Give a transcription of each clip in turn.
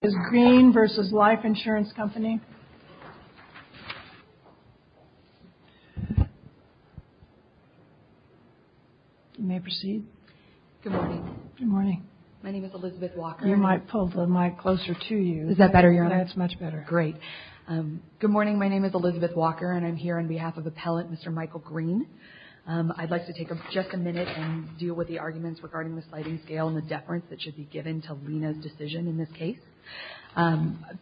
Good morning. My name is Elizabeth Walker and I'm here on behalf of Appellant Mr. Michael Green. I'd like to take just a minute and deal with the arguments regarding the sliding scale and the deference that should be given to Lena's decision in this case.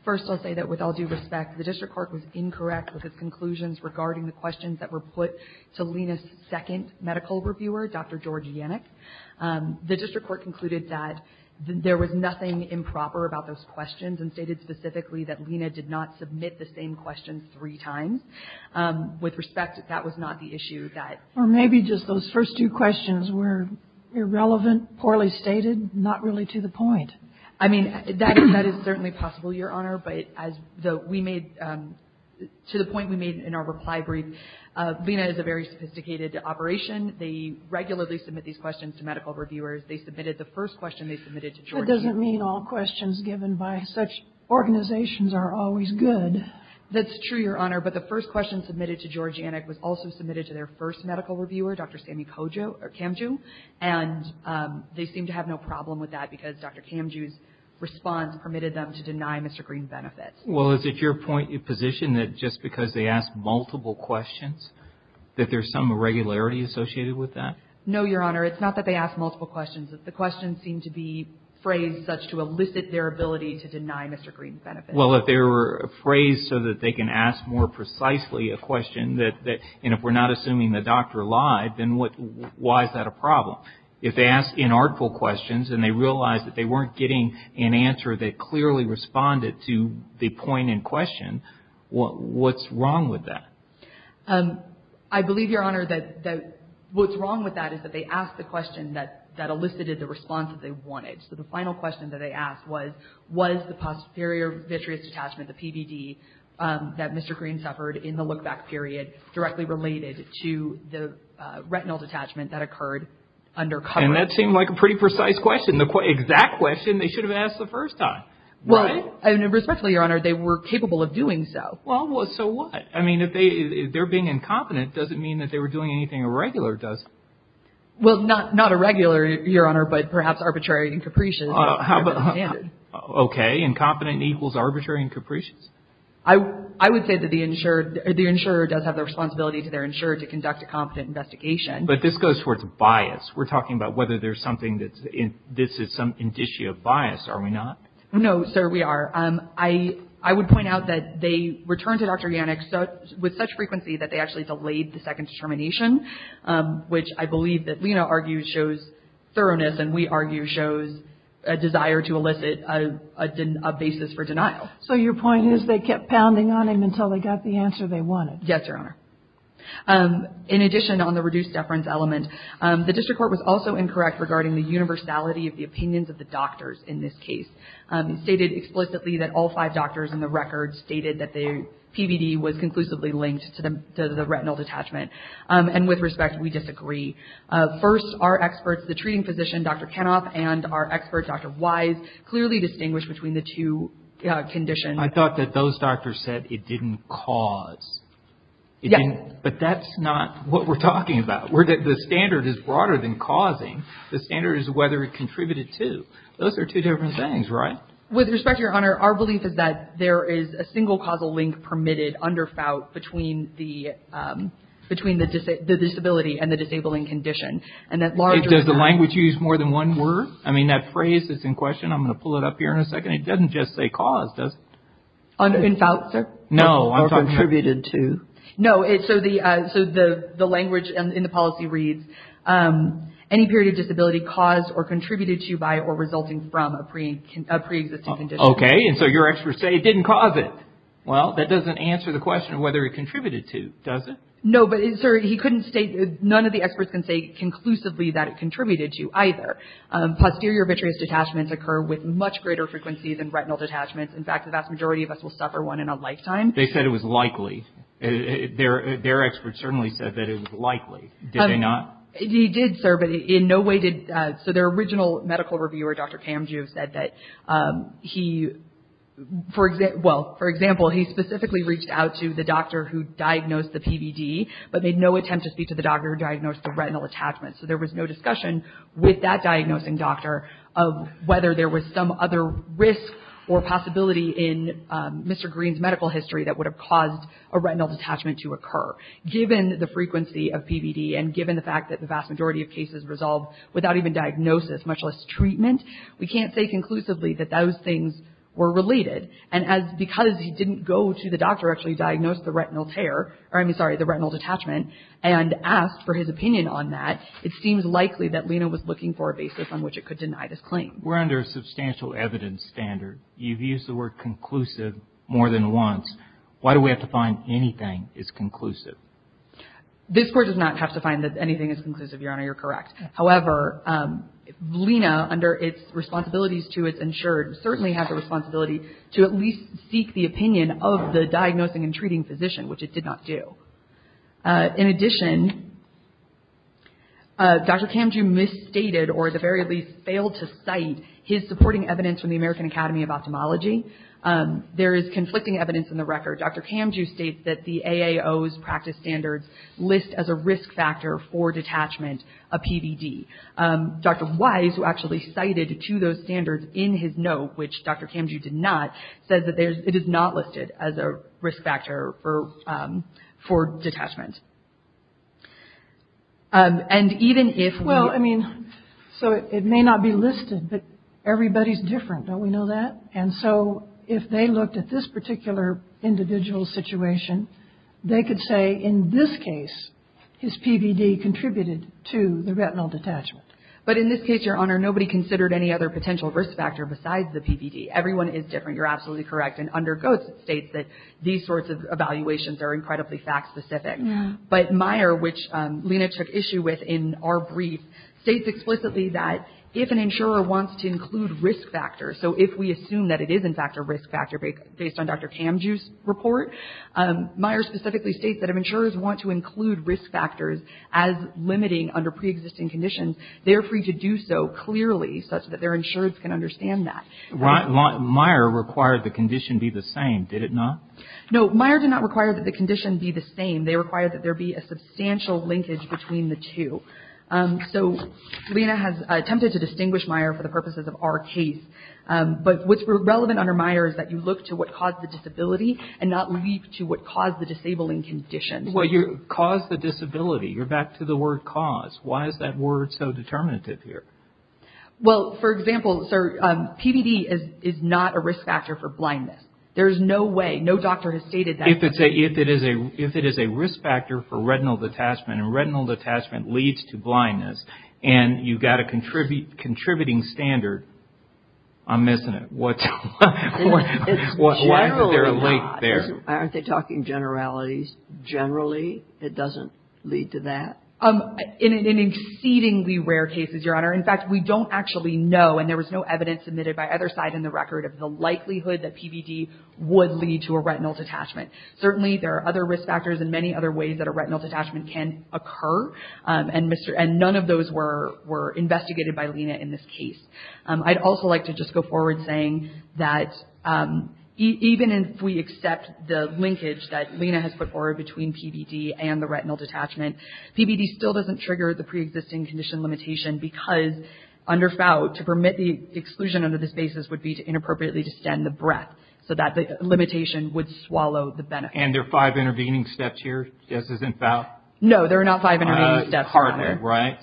First, I'll say that with all due respect, the district court was incorrect with its conclusions regarding the questions that were put to Lena's second medical reviewer, Dr. George Yannick. The district court concluded that there was nothing improper about those questions and stated specifically that Lena did not submit the same questions three times. With respect, that was not the issue that... Or maybe just those first two questions were irrelevant, poorly stated, not really to the point. I mean, that is certainly possible, Your Honor, but as we made, to the point we made in our reply brief, Lena is a very sophisticated operation. They regularly submit these questions to medical reviewers. They submitted the first question they submitted to George Yannick. That doesn't mean all questions given by such organizations are always good. That's true, Your Honor, but the first question submitted to George Yannick was also submitted to their first medical reviewer, Dr. Sami Kamju, and they seemed to have no problem with that because Dr. Kamju's response permitted them to deny Mr. Green's benefit. Well, is it your position that just because they asked multiple questions that there's some irregularity associated with that? No, Your Honor. It's not that they asked multiple questions. The questions seemed to be phrased such to elicit their ability to deny Mr. Green's benefit. Well, if they were phrased so that they can ask more precisely a question, and if we're not assuming the doctor lied, then why is that a problem? If they asked inartful questions and they realized that they weren't getting an answer that clearly responded to the point in question, what's wrong with that? I believe, Your Honor, that what's wrong with that is that they asked the question that elicited the response that they wanted. So the final question that they asked was, was the posterior vitreous detachment, the PVD, that Mr. Green suffered in the look-back period directly related to the retinal detachment that occurred under cover? And that seemed like a pretty precise question, the exact question they should have asked the first time. Well, and respectfully, Your Honor, they were capable of doing so. Well, so what? I mean, if they're being incompetent, it doesn't mean that they were doing anything irregular, does it? Well, not irregular, Your Honor, but perhaps arbitrary and capricious. Okay. Incompetent equals arbitrary and capricious? I would say that the insurer does have the responsibility to their insurer to conduct a competent investigation. But this goes towards bias. We're talking about whether there's something that's in this is some indicia of bias, are we not? No, sir, we are. I would point out that they returned to Dr. Yannick with such frequency that they actually delayed the second determination, which I believe that Lena argues shows thoroughness and we argue shows a desire to elicit a basis for denial. So your point is they kept pounding on him until they got the answer they wanted? Yes, Your Honor. In addition, on the reduced deference element, the district court was also incorrect regarding the universality of the opinions of the doctors in this case. It stated explicitly that all five doctors in the record stated that the PVD was conclusively linked to the retinal detachment. And with respect, we disagree. First, our experts, the treating physician, Dr. Kenoff, and our expert, Dr. Wise, clearly distinguished between the two conditions. I thought that those doctors said it didn't cause. Yes. But that's not what we're talking about. The standard is broader than causing. The standard is whether it contributed to. Those are two different things, right? With respect, Your Honor, our belief is that there is a single causal link permitted under FOUT between the disability and the disabling condition. Does the language use more than one word? I mean, that phrase is in question. I'm going to pull it up here in a second. It doesn't just say cause, does it? In FOUT, sir? No. Or contributed to? No. So the language in the policy reads, Any period of disability caused or contributed to by or resulting from a pre-existing condition. Okay. And so your experts say it didn't cause it. Well, that doesn't answer the question of whether it contributed to, does it? No. But, sir, he couldn't state, none of the experts can say conclusively that it contributed to either. Posterior vitreous detachments occur with much greater frequency than retinal detachments. In fact, the vast majority of us will suffer one in a lifetime. They said it was likely. Their experts certainly said that it was likely. Did they not? He did, sir, but in no way did, so their original medical reviewer, Dr. Kamju, said that he, well, for example, he specifically reached out to the doctor who diagnosed the PVD, but made no attempt to speak to the doctor who diagnosed the retinal attachment. So there was no discussion with that diagnosing doctor of whether there was some other risk or possibility in Mr. Green's medical history that would have caused a retinal detachment to occur. Given the frequency of PVD and given the fact that the vast majority of cases resolve without even diagnosis, much less treatment, we can't say conclusively that those things were related. And because he didn't go to the doctor who actually diagnosed the retinal tear, or I mean, sorry, the retinal detachment, and asked for his opinion on that, it seems likely that Lena was looking for a basis on which it could deny this claim. We're under a substantial evidence standard. You've used the word conclusive more than once. Why do we have to find anything is conclusive? This Court does not have to find that anything is conclusive, Your Honor. You're correct. However, Lena, under its responsibilities to its insured, certainly has a responsibility to at least seek the opinion of the diagnosing and treating physician, which it did not do. In addition, Dr. Kamju misstated or, at the very least, failed to cite his supporting evidence from the American Academy of Ophthalmology. There is conflicting evidence in the record. Dr. Kamju states that the AAO's practice standards list as a risk factor for detachment a PVD. Dr. Wise, who actually cited two of those standards in his note, which Dr. Kamju did not, says that it is not listed as a risk factor for detachment. And even if we... Well, I mean, so it may not be listed, but everybody's different. Don't we know that? And so if they looked at this particular individual's situation, they could say in this case his PVD contributed to the retinal detachment. But in this case, Your Honor, nobody considered any other potential risk factor besides the PVD. Everyone is different. You're absolutely correct. And under Goetz, it states that these sorts of evaluations are incredibly fact-specific. But Meyer, which Lena took issue with in our brief, states explicitly that if an insurer wants to include risk factors, so if we assume that it is in fact a risk factor based on Dr. Kamju's report, Meyer specifically states that if insurers want to include risk factors as limiting under preexisting conditions, they are free to do so clearly such that their insurers can understand that. Meyer required the condition be the same, did it not? No, Meyer did not require that the condition be the same. They required that there be a substantial linkage between the two. So Lena has attempted to distinguish Meyer for the purposes of our case. But what's relevant under Meyer is that you look to what caused the disability and not leave to what caused the disabling condition. Well, you caused the disability. You're back to the word cause. Why is that word so determinative here? Well, for example, sir, PVD is not a risk factor for blindness. There is no way, no doctor has stated that. If it is a risk factor for retinal detachment, and retinal detachment leads to blindness, and you've got a contributing standard, I'm missing it. Why is there a link there? Aren't they talking generalities? Generally, it doesn't lead to that? In exceedingly rare cases, Your Honor, in fact, we don't actually know, and there was no evidence submitted by either side in the record of the likelihood that PVD would lead to a retinal detachment. Certainly there are other risk factors and many other ways that a retinal detachment can occur, and none of those were investigated by Lena in this case. I'd also like to just go forward saying that even if we accept the linkage that Lena has put forward between PVD and the retinal detachment, PVD still doesn't trigger the preexisting condition limitation because under FOUT, to permit the exclusion under this basis would be inappropriately to extend the breadth so that the limitation would swallow the benefit. And there are five intervening steps here, just as in FOUT? No, there are not five intervening steps, Your Honor. Hardly, right?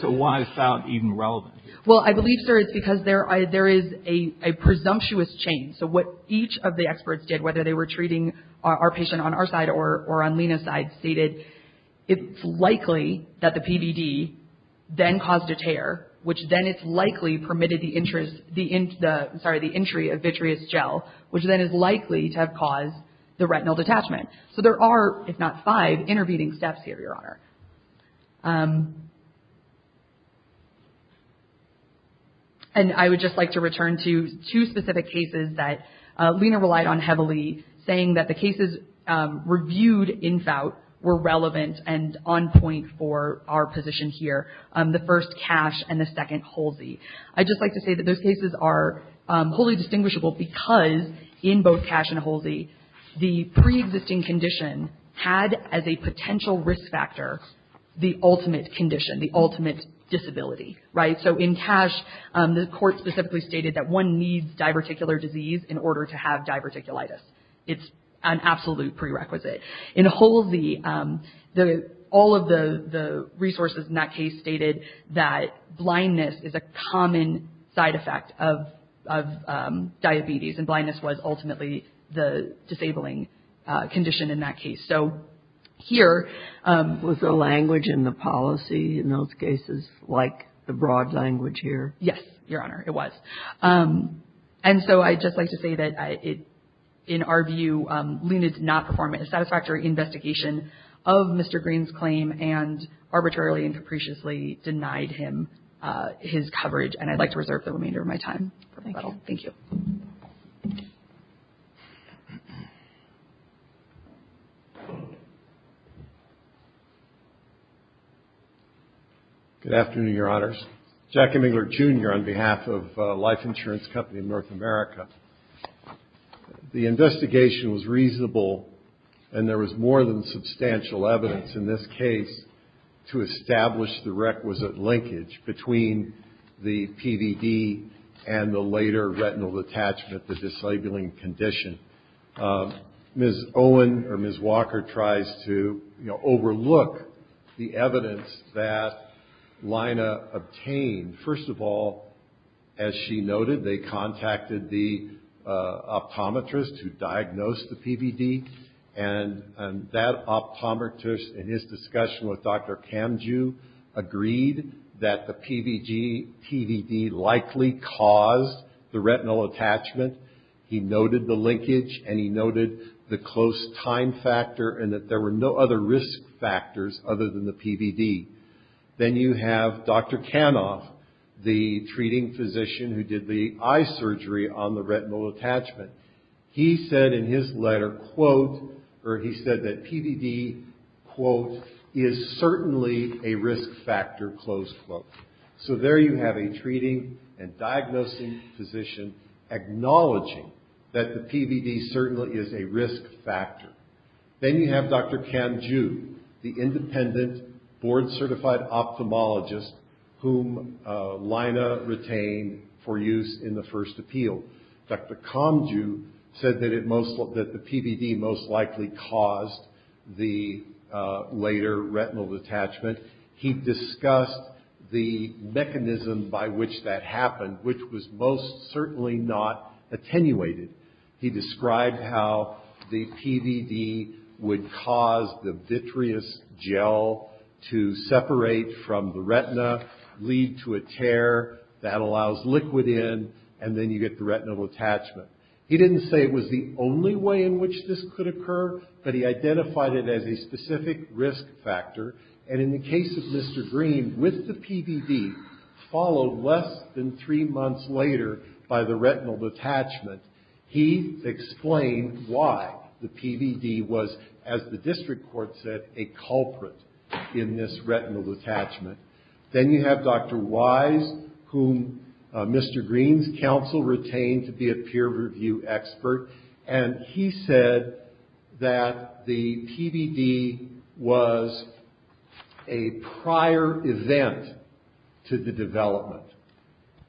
So why is FOUT even relevant? Well, I believe, sir, it's because there is a presumptuous chain. So what each of the experts did, whether they were treating our patient on our side or on Lena's side, stated it's likely that the PVD then caused a tear, which then it's likely permitted the entry of vitreous gel, which then is likely to have caused the retinal detachment. So there are, if not five, intervening steps here, Your Honor. And I would just like to return to two specific cases that Lena relied on heavily, saying that the cases reviewed in FOUT were relevant and on point for our position here, the first, CASH, and the second, HOLSI. I'd just like to say that those cases are wholly distinguishable because in both CASH and HOLSI, the pre-existing condition had as a potential risk factor the ultimate condition, the ultimate disability, right? So in CASH, the court specifically stated that one needs diverticular disease in order to have diverticulitis. It's an absolute prerequisite. In HOLSI, all of the resources in that case stated that blindness is a common side effect of diabetes, and blindness was ultimately the disabling condition in that case. So here... Was the language in the policy in those cases like the broad language here? Yes, Your Honor, it was. And so I'd just like to say that in our view, Luna did not perform a satisfactory investigation of Mr. Green's claim and arbitrarily and capriciously denied him his coverage, and I'd like to reserve the remainder of my time. Thank you. Thank you. Good afternoon, Your Honors. Jackie Mingler, Jr., on behalf of Life Insurance Company of North America. The investigation was reasonable, and there was more than substantial evidence in this case to establish the requisite linkage between the PVD and the later retinal detachment, the disabling condition. Ms. Owen or Ms. Walker tries to, you know, overlook the evidence that Lina obtained. First of all, as she noted, they contacted the optometrist who diagnosed the PVD, and that optometrist, in his discussion with Dr. Kamju, agreed that the PVD likely caused the retinal attachment. He noted the linkage, and he noted the close time factor, and that there were no other risk factors other than the PVD. Then you have Dr. Kanoff, the treating physician who did the eye surgery on the retinal attachment. He said in his letter, quote, or he said that PVD, quote, is certainly a risk factor, close quote. So there you have a treating and diagnosing physician acknowledging that the PVD certainly is a risk factor. Then you have Dr. Kamju, the independent board-certified ophthalmologist whom Lina retained for use in the first appeal. Dr. Kamju said that the PVD most likely caused the later retinal detachment. He discussed the mechanism by which that happened, which was most certainly not attenuated. He described how the PVD would cause the vitreous gel to separate from the retina, lead to a tear. That allows liquid in, and then you get the retinal attachment. He didn't say it was the only way in which this could occur, but he identified it as a specific risk factor. And in the case of Mr. Green, with the PVD, followed less than three months later by the retinal detachment, he explained why the PVD was, as the district court said, a culprit in this retinal detachment. Then you have Dr. Wise, whom Mr. Green's counsel retained to be a peer review expert, and he said that the PVD was a prior event to the development.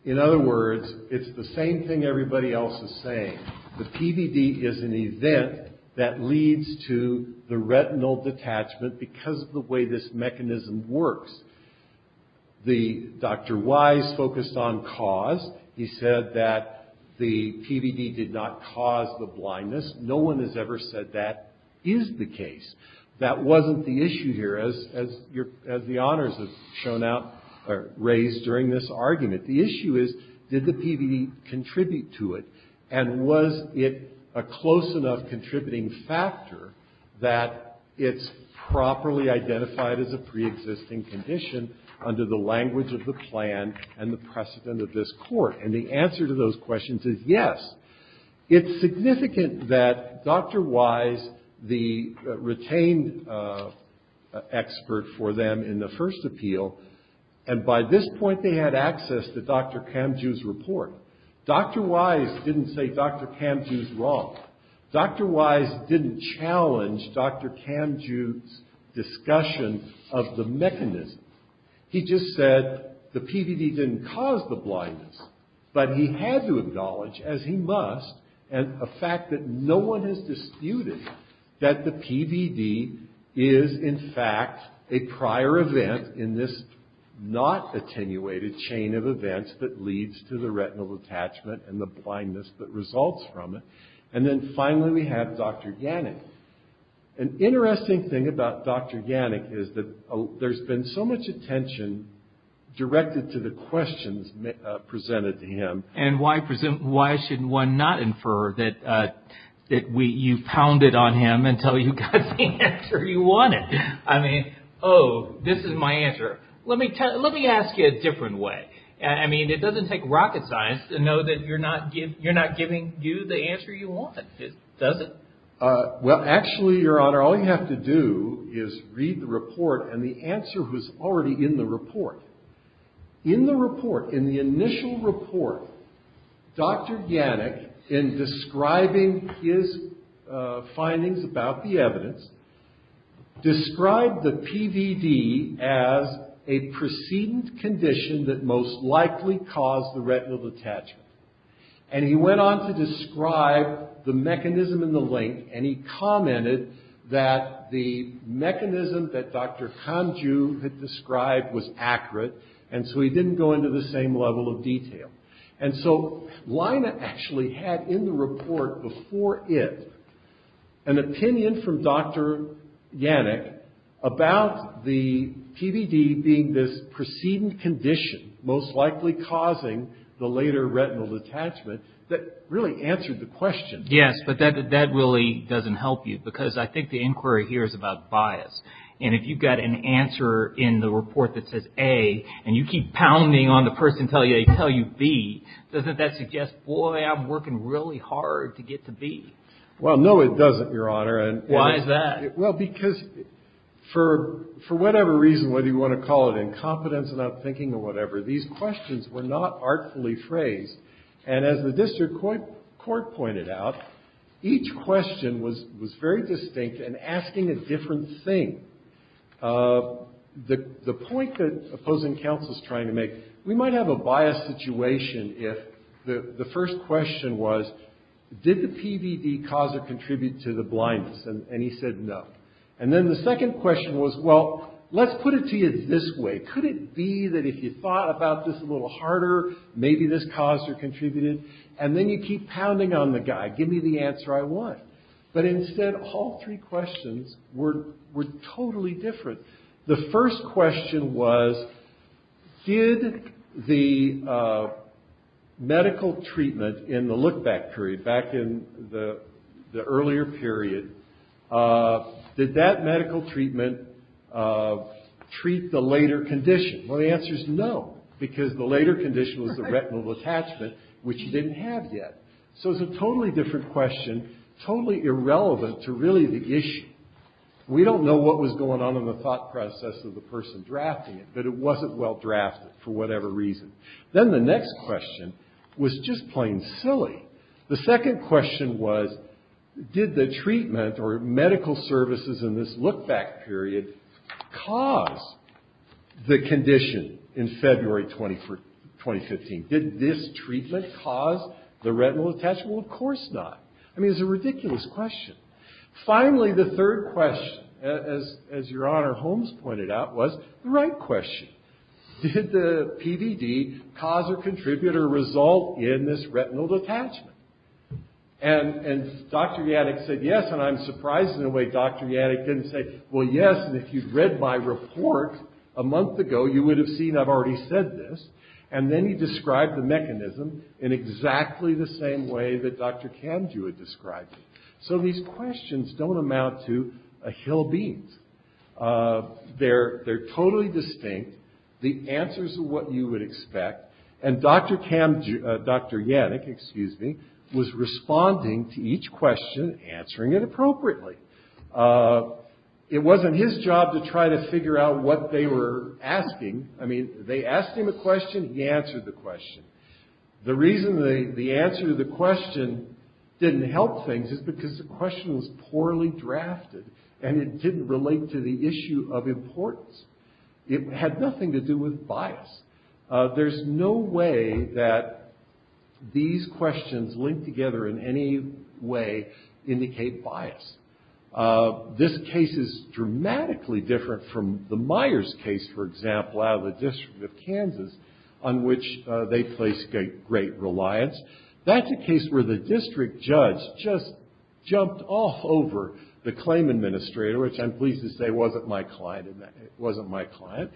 In other words, it's the same thing everybody else is saying. The PVD is an event that leads to the retinal detachment because of the way this mechanism works. Dr. Wise focused on cause. He said that the PVD did not cause the blindness. No one has ever said that is the case. That wasn't the issue here, as the honors have shown out or raised during this argument. The issue is, did the PVD contribute to it, and was it a close enough contributing factor that it's properly identified as a preexisting condition under the language of the plan and the precedent of this court? And the answer to those questions is yes. It's significant that Dr. Wise, the retained expert for them in the first appeal, and by this point they had access to Dr. Kamjoo's report. Dr. Wise didn't say Dr. Kamjoo's wrong. Dr. Wise didn't challenge Dr. Kamjoo's discussion of the mechanism. But he had to acknowledge, as he must, a fact that no one has disputed, that the PVD is in fact a prior event in this not attenuated chain of events that leads to the retinal detachment and the blindness that results from it. And then finally we have Dr. Yannick. An interesting thing about Dr. Yannick is that there's been so much attention directed to the questions presented to him. And why should one not infer that you pounded on him until you got the answer you wanted? I mean, oh, this is my answer. Let me ask you a different way. I mean, it doesn't take rocket science to know that you're not giving you the answer you want, does it? Well, actually, Your Honor, all you have to do is read the report and the answer was already in the report. In the report, in the initial report, Dr. Yannick, in describing his findings about the evidence, described the PVD as a precedent condition that most likely caused the retinal detachment. And he went on to describe the mechanism in the link and he commented that the mechanism that Dr. Kanju had described was accurate. And so he didn't go into the same level of detail. And so Lina actually had in the report before it an opinion from Dr. Yannick about the PVD being this precedent condition most likely causing the later retinal detachment that really answered the question. Yes, but that really doesn't help you because I think the inquiry here is about bias. And if you've got an answer in the report that says A and you keep pounding on the person until they tell you B, doesn't that suggest, boy, I'm working really hard to get to B? Well, no, it doesn't, Your Honor. Why is that? Well, because for whatever reason, whether you want to call it incompetence, not thinking, or whatever, these questions were not artfully phrased. And as the district court pointed out, each question was very distinct and asking a different thing. The point that opposing counsel is trying to make, we might have a biased situation if the first question was, did the PVD cause or contribute to the blindness? And he said no. And then the second question was, well, let's put it to you this way. Could it be that if you thought about this a little harder, maybe this caused or contributed? And then you keep pounding on the guy. Give me the answer I want. But instead, all three questions were totally different. The first question was, did the medical treatment in the look-back period, back in the earlier period, did that medical treatment treat the later condition? Well, the answer's no. Because the later condition was the retinal detachment, which you didn't have yet. So it's a totally different question, totally irrelevant to really the issue. We don't know what was going on in the thought process of the person drafting it, but it wasn't well-drafted for whatever reason. Then the next question was just plain silly. The second question was, did the treatment or medical services in this look-back period cause the condition in February 2015? Did this treatment cause the retinal detachment? Well, of course not. I mean, it's a ridiculous question. Finally, the third question, as Your Honor Holmes pointed out, was the right question. Did the PVD cause or contribute or result in this retinal detachment? And Dr. Yaddick said yes, and I'm surprised in a way Dr. Yaddick didn't say, well yes, and if you'd read my report a month ago, you would have seen I've already said this. And then he described the mechanism in exactly the same way that Dr. Kamju had described it. So these questions don't amount to a hill of beans. They're totally distinct. The answers are what you would expect. And Dr. Kamju, Dr. Yaddick, excuse me, was responding to each question, answering it appropriately. It wasn't his job to try to figure out what they were asking. I mean, they asked him a question, he answered the question. The reason the answer to the question didn't help things is because the question was poorly drafted and it didn't relate to the issue of importance. It had nothing to do with bias. There's no way that these questions linked together in any way indicate bias. This case is dramatically different from the Myers case, for example, out of the District of Kansas, on which they placed great reliance. That's a case where the district judge just jumped off over the claim administrator, which I'm pleased to say wasn't my client, it wasn't my client,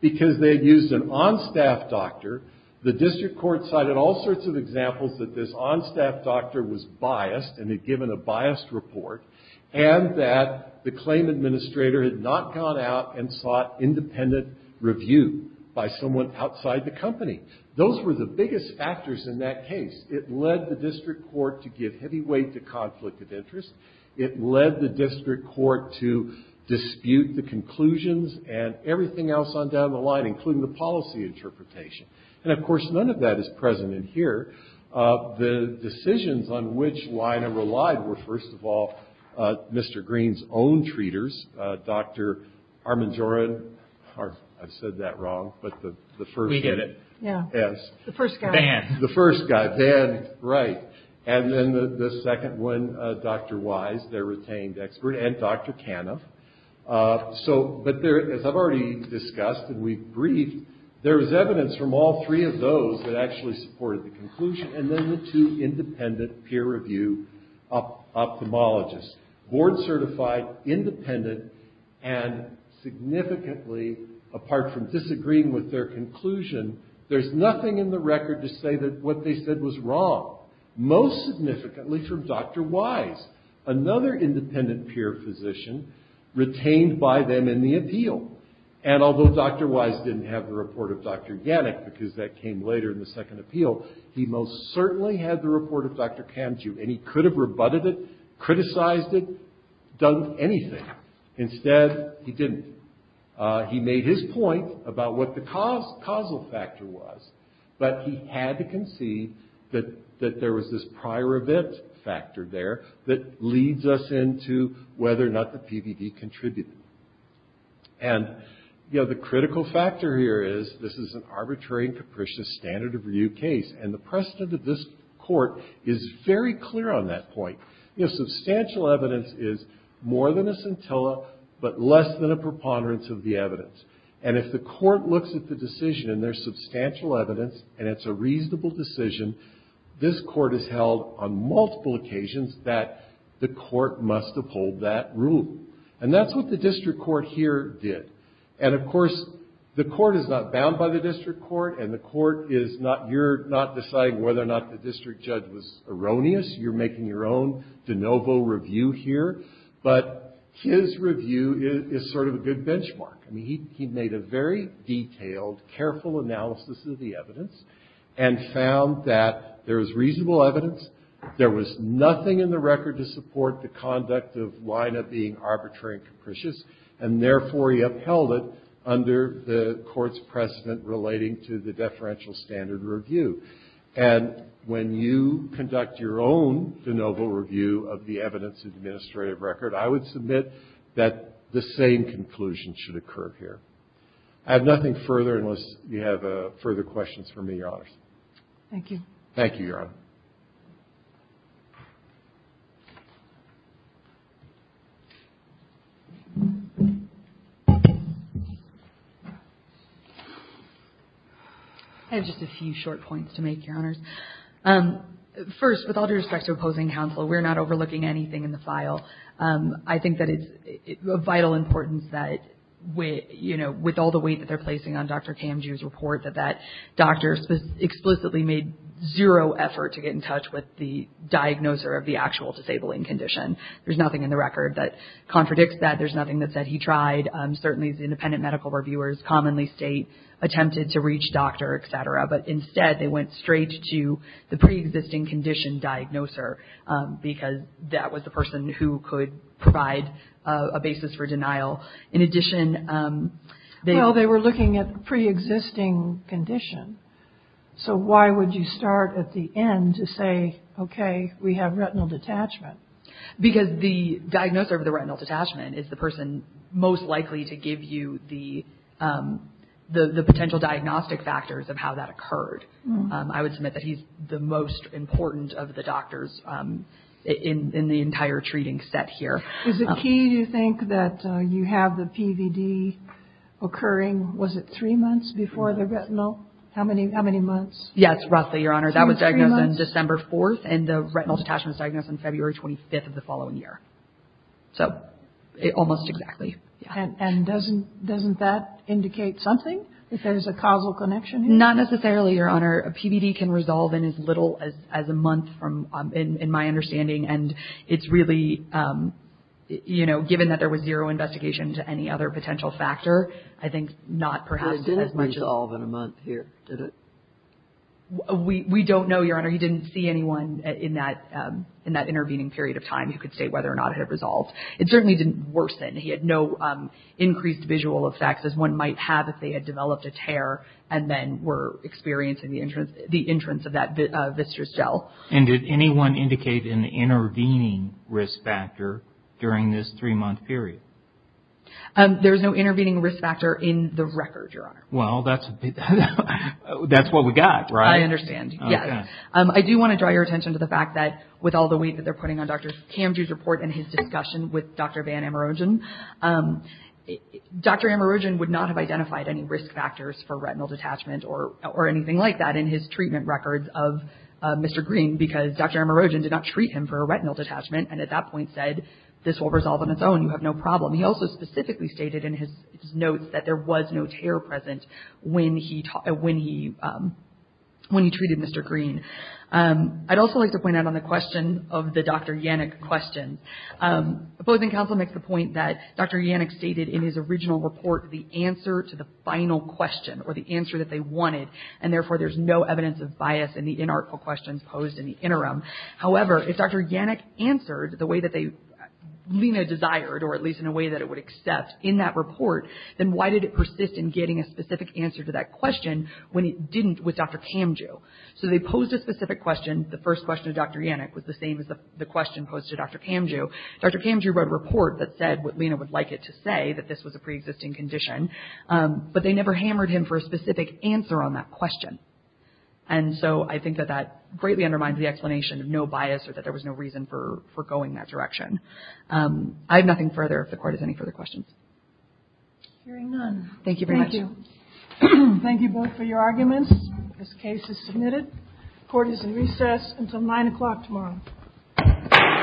because they had used an on-staff doctor. The district court cited all sorts of examples that this on-staff doctor was biased and had given a biased report, and that the claim administrator had not gone out and sought independent review by someone outside the company. Those were the biggest factors in that case. It led the district court to give heavy weight to conflict of interest. It led the district court to dispute the conclusions and everything else on down the line, including the policy interpretation. And, of course, none of that is present in here. The decisions on which Lina relied were, first of all, Mr. Green's own treaters, Dr. Armand Jorin. I've said that wrong, but the first unit. Yes. The first guy. The first guy, Van, right. And then the second one, Dr. Wise, their retained expert, and Dr. Caniff. But, as I've already discussed and we've briefed, there was evidence from all three of those that actually supported the conclusion. And then the two independent peer review ophthalmologists. Board-certified, independent, and significantly, apart from disagreeing with their conclusion, there's nothing in the record to say that what they said was wrong. Most significantly from Dr. Wise, another independent peer physician retained by them in the appeal. And although Dr. Wise didn't have the report of Dr. Yannick, because that came later in the second appeal, he most certainly had the report of Dr. Kanju. And he could have rebutted it, criticized it, done anything. Instead, he didn't. He made his point about what the causal factor was, but he had to concede that there was this prior event factor there that leads us into whether or not the PVD contributed. And, you know, the critical factor here is this is an arbitrary and capricious standard of review case. And the precedent of this court is very clear on that point. Substantial evidence is more than a scintilla, but less than a preponderance of the evidence. And if the court looks at the decision and there's substantial evidence and it's a reasonable decision, this court has held on multiple occasions that the court must uphold that rule. And that's what the district court here did. And, of course, the court is not bound by the district court, and the court is not... You're not deciding whether or not the district judge was erroneous. You're making your own de novo review here. But his review is sort of a good benchmark. I mean, he made a very detailed, careful analysis of the evidence and found that there was reasonable evidence, there was nothing in the record to support the conduct of Wyna being arbitrary and capricious, and therefore he upheld it under the court's precedent relating to the deferential standard review. And when you conduct your own de novo review of the evidence administrative record, I would submit that the same conclusion should occur here. I have nothing further unless you have further questions for me, Your Honors. Thank you. Thank you, Your Honor. I have just a few short points to make, Your Honors. First, with all due respect to opposing counsel, we're not overlooking anything in the file. I think that it's of vital importance that, you know, with all the weight that they're placing on Dr. Kamji's report, that that doctor explicitly made zero effort to get in touch with the diagnoser of the actual disabling condition. There's nothing in the record that contradicts that. There's nothing that said he tried. Certainly, independent medical reviewers commonly state attempted to reach doctor, et cetera. But instead, they went straight to the preexisting condition diagnoser because that was the person who could provide a basis for denial. In addition, they... Well, they were looking at preexisting condition. So why would you start at the end to say, okay, we have retinal detachment? Because the diagnoser of the retinal detachment is the person most likely to give you the potential diagnostic factors of how that occurred. I would submit that he's the most important of the doctors in the entire treating set here. Is it key to think that you have the PVD occurring, was it three months before the retinal? How many months? Yes, roughly, Your Honor. That was diagnosed on December 4th, and the retinal detachment was diagnosed on February 25th of the following year. So almost exactly. And doesn't that indicate something, if there's a causal connection? Not necessarily, Your Honor. A PVD can resolve in as little as a month, in my understanding. And it's really, you know, given that there was zero investigation to any other potential factor, I think not perhaps as much as... It didn't resolve in a month here, did it? We don't know, Your Honor. You didn't see anyone in that intervening period of time who could state whether or not it had resolved. It certainly didn't worsen. He had no increased visual effects as one might have if they had developed a tear and then were experiencing the entrance of that viscerous gel. And did anyone indicate an intervening risk factor during this three-month period? There's no intervening risk factor in the record, Your Honor. Well, that's what we got, right? I understand, yes. I do want to draw your attention to the fact that with all the weight that they're putting on Dr. Kamji's report and his discussion with Dr. Van Amerogen, Dr. Amerogen would not have identified any risk factors for retinal detachment or anything like that in his treatment records of Mr. Green because Dr. Amerogen did not treat him for a retinal detachment and at that point said, this will resolve on its own. You have no problem. He also specifically stated in his notes that there was no tear present when he treated Mr. Green. I'd also like to point out on the question of the Dr. Yannick question, opposing counsel makes the point that Dr. Yannick stated in his original report the answer to the final question or the answer that they wanted, and therefore there's no evidence of bias in the inarticulate questions posed in the interim. However, if Dr. Yannick answered the way that they, Lena desired or at least in a way that it would accept in that report, then why did it persist in getting a specific answer to that question when it didn't with Dr. Kamji? So they posed a specific question. The first question of Dr. Yannick was the same as the question posed to Dr. Kamji. Dr. Kamji wrote a report that said what Lena would like it to say, that this was a preexisting condition, but they never hammered him for a specific answer on that question. And so I think that that greatly undermines the explanation of no bias or that there was no reason for going that direction. I have nothing further if the Court has any further questions. Hearing none. Thank you very much. Thank you. Thank you both for your arguments. This case is submitted. Court is in recess until 9 o'clock tomorrow. Thank you.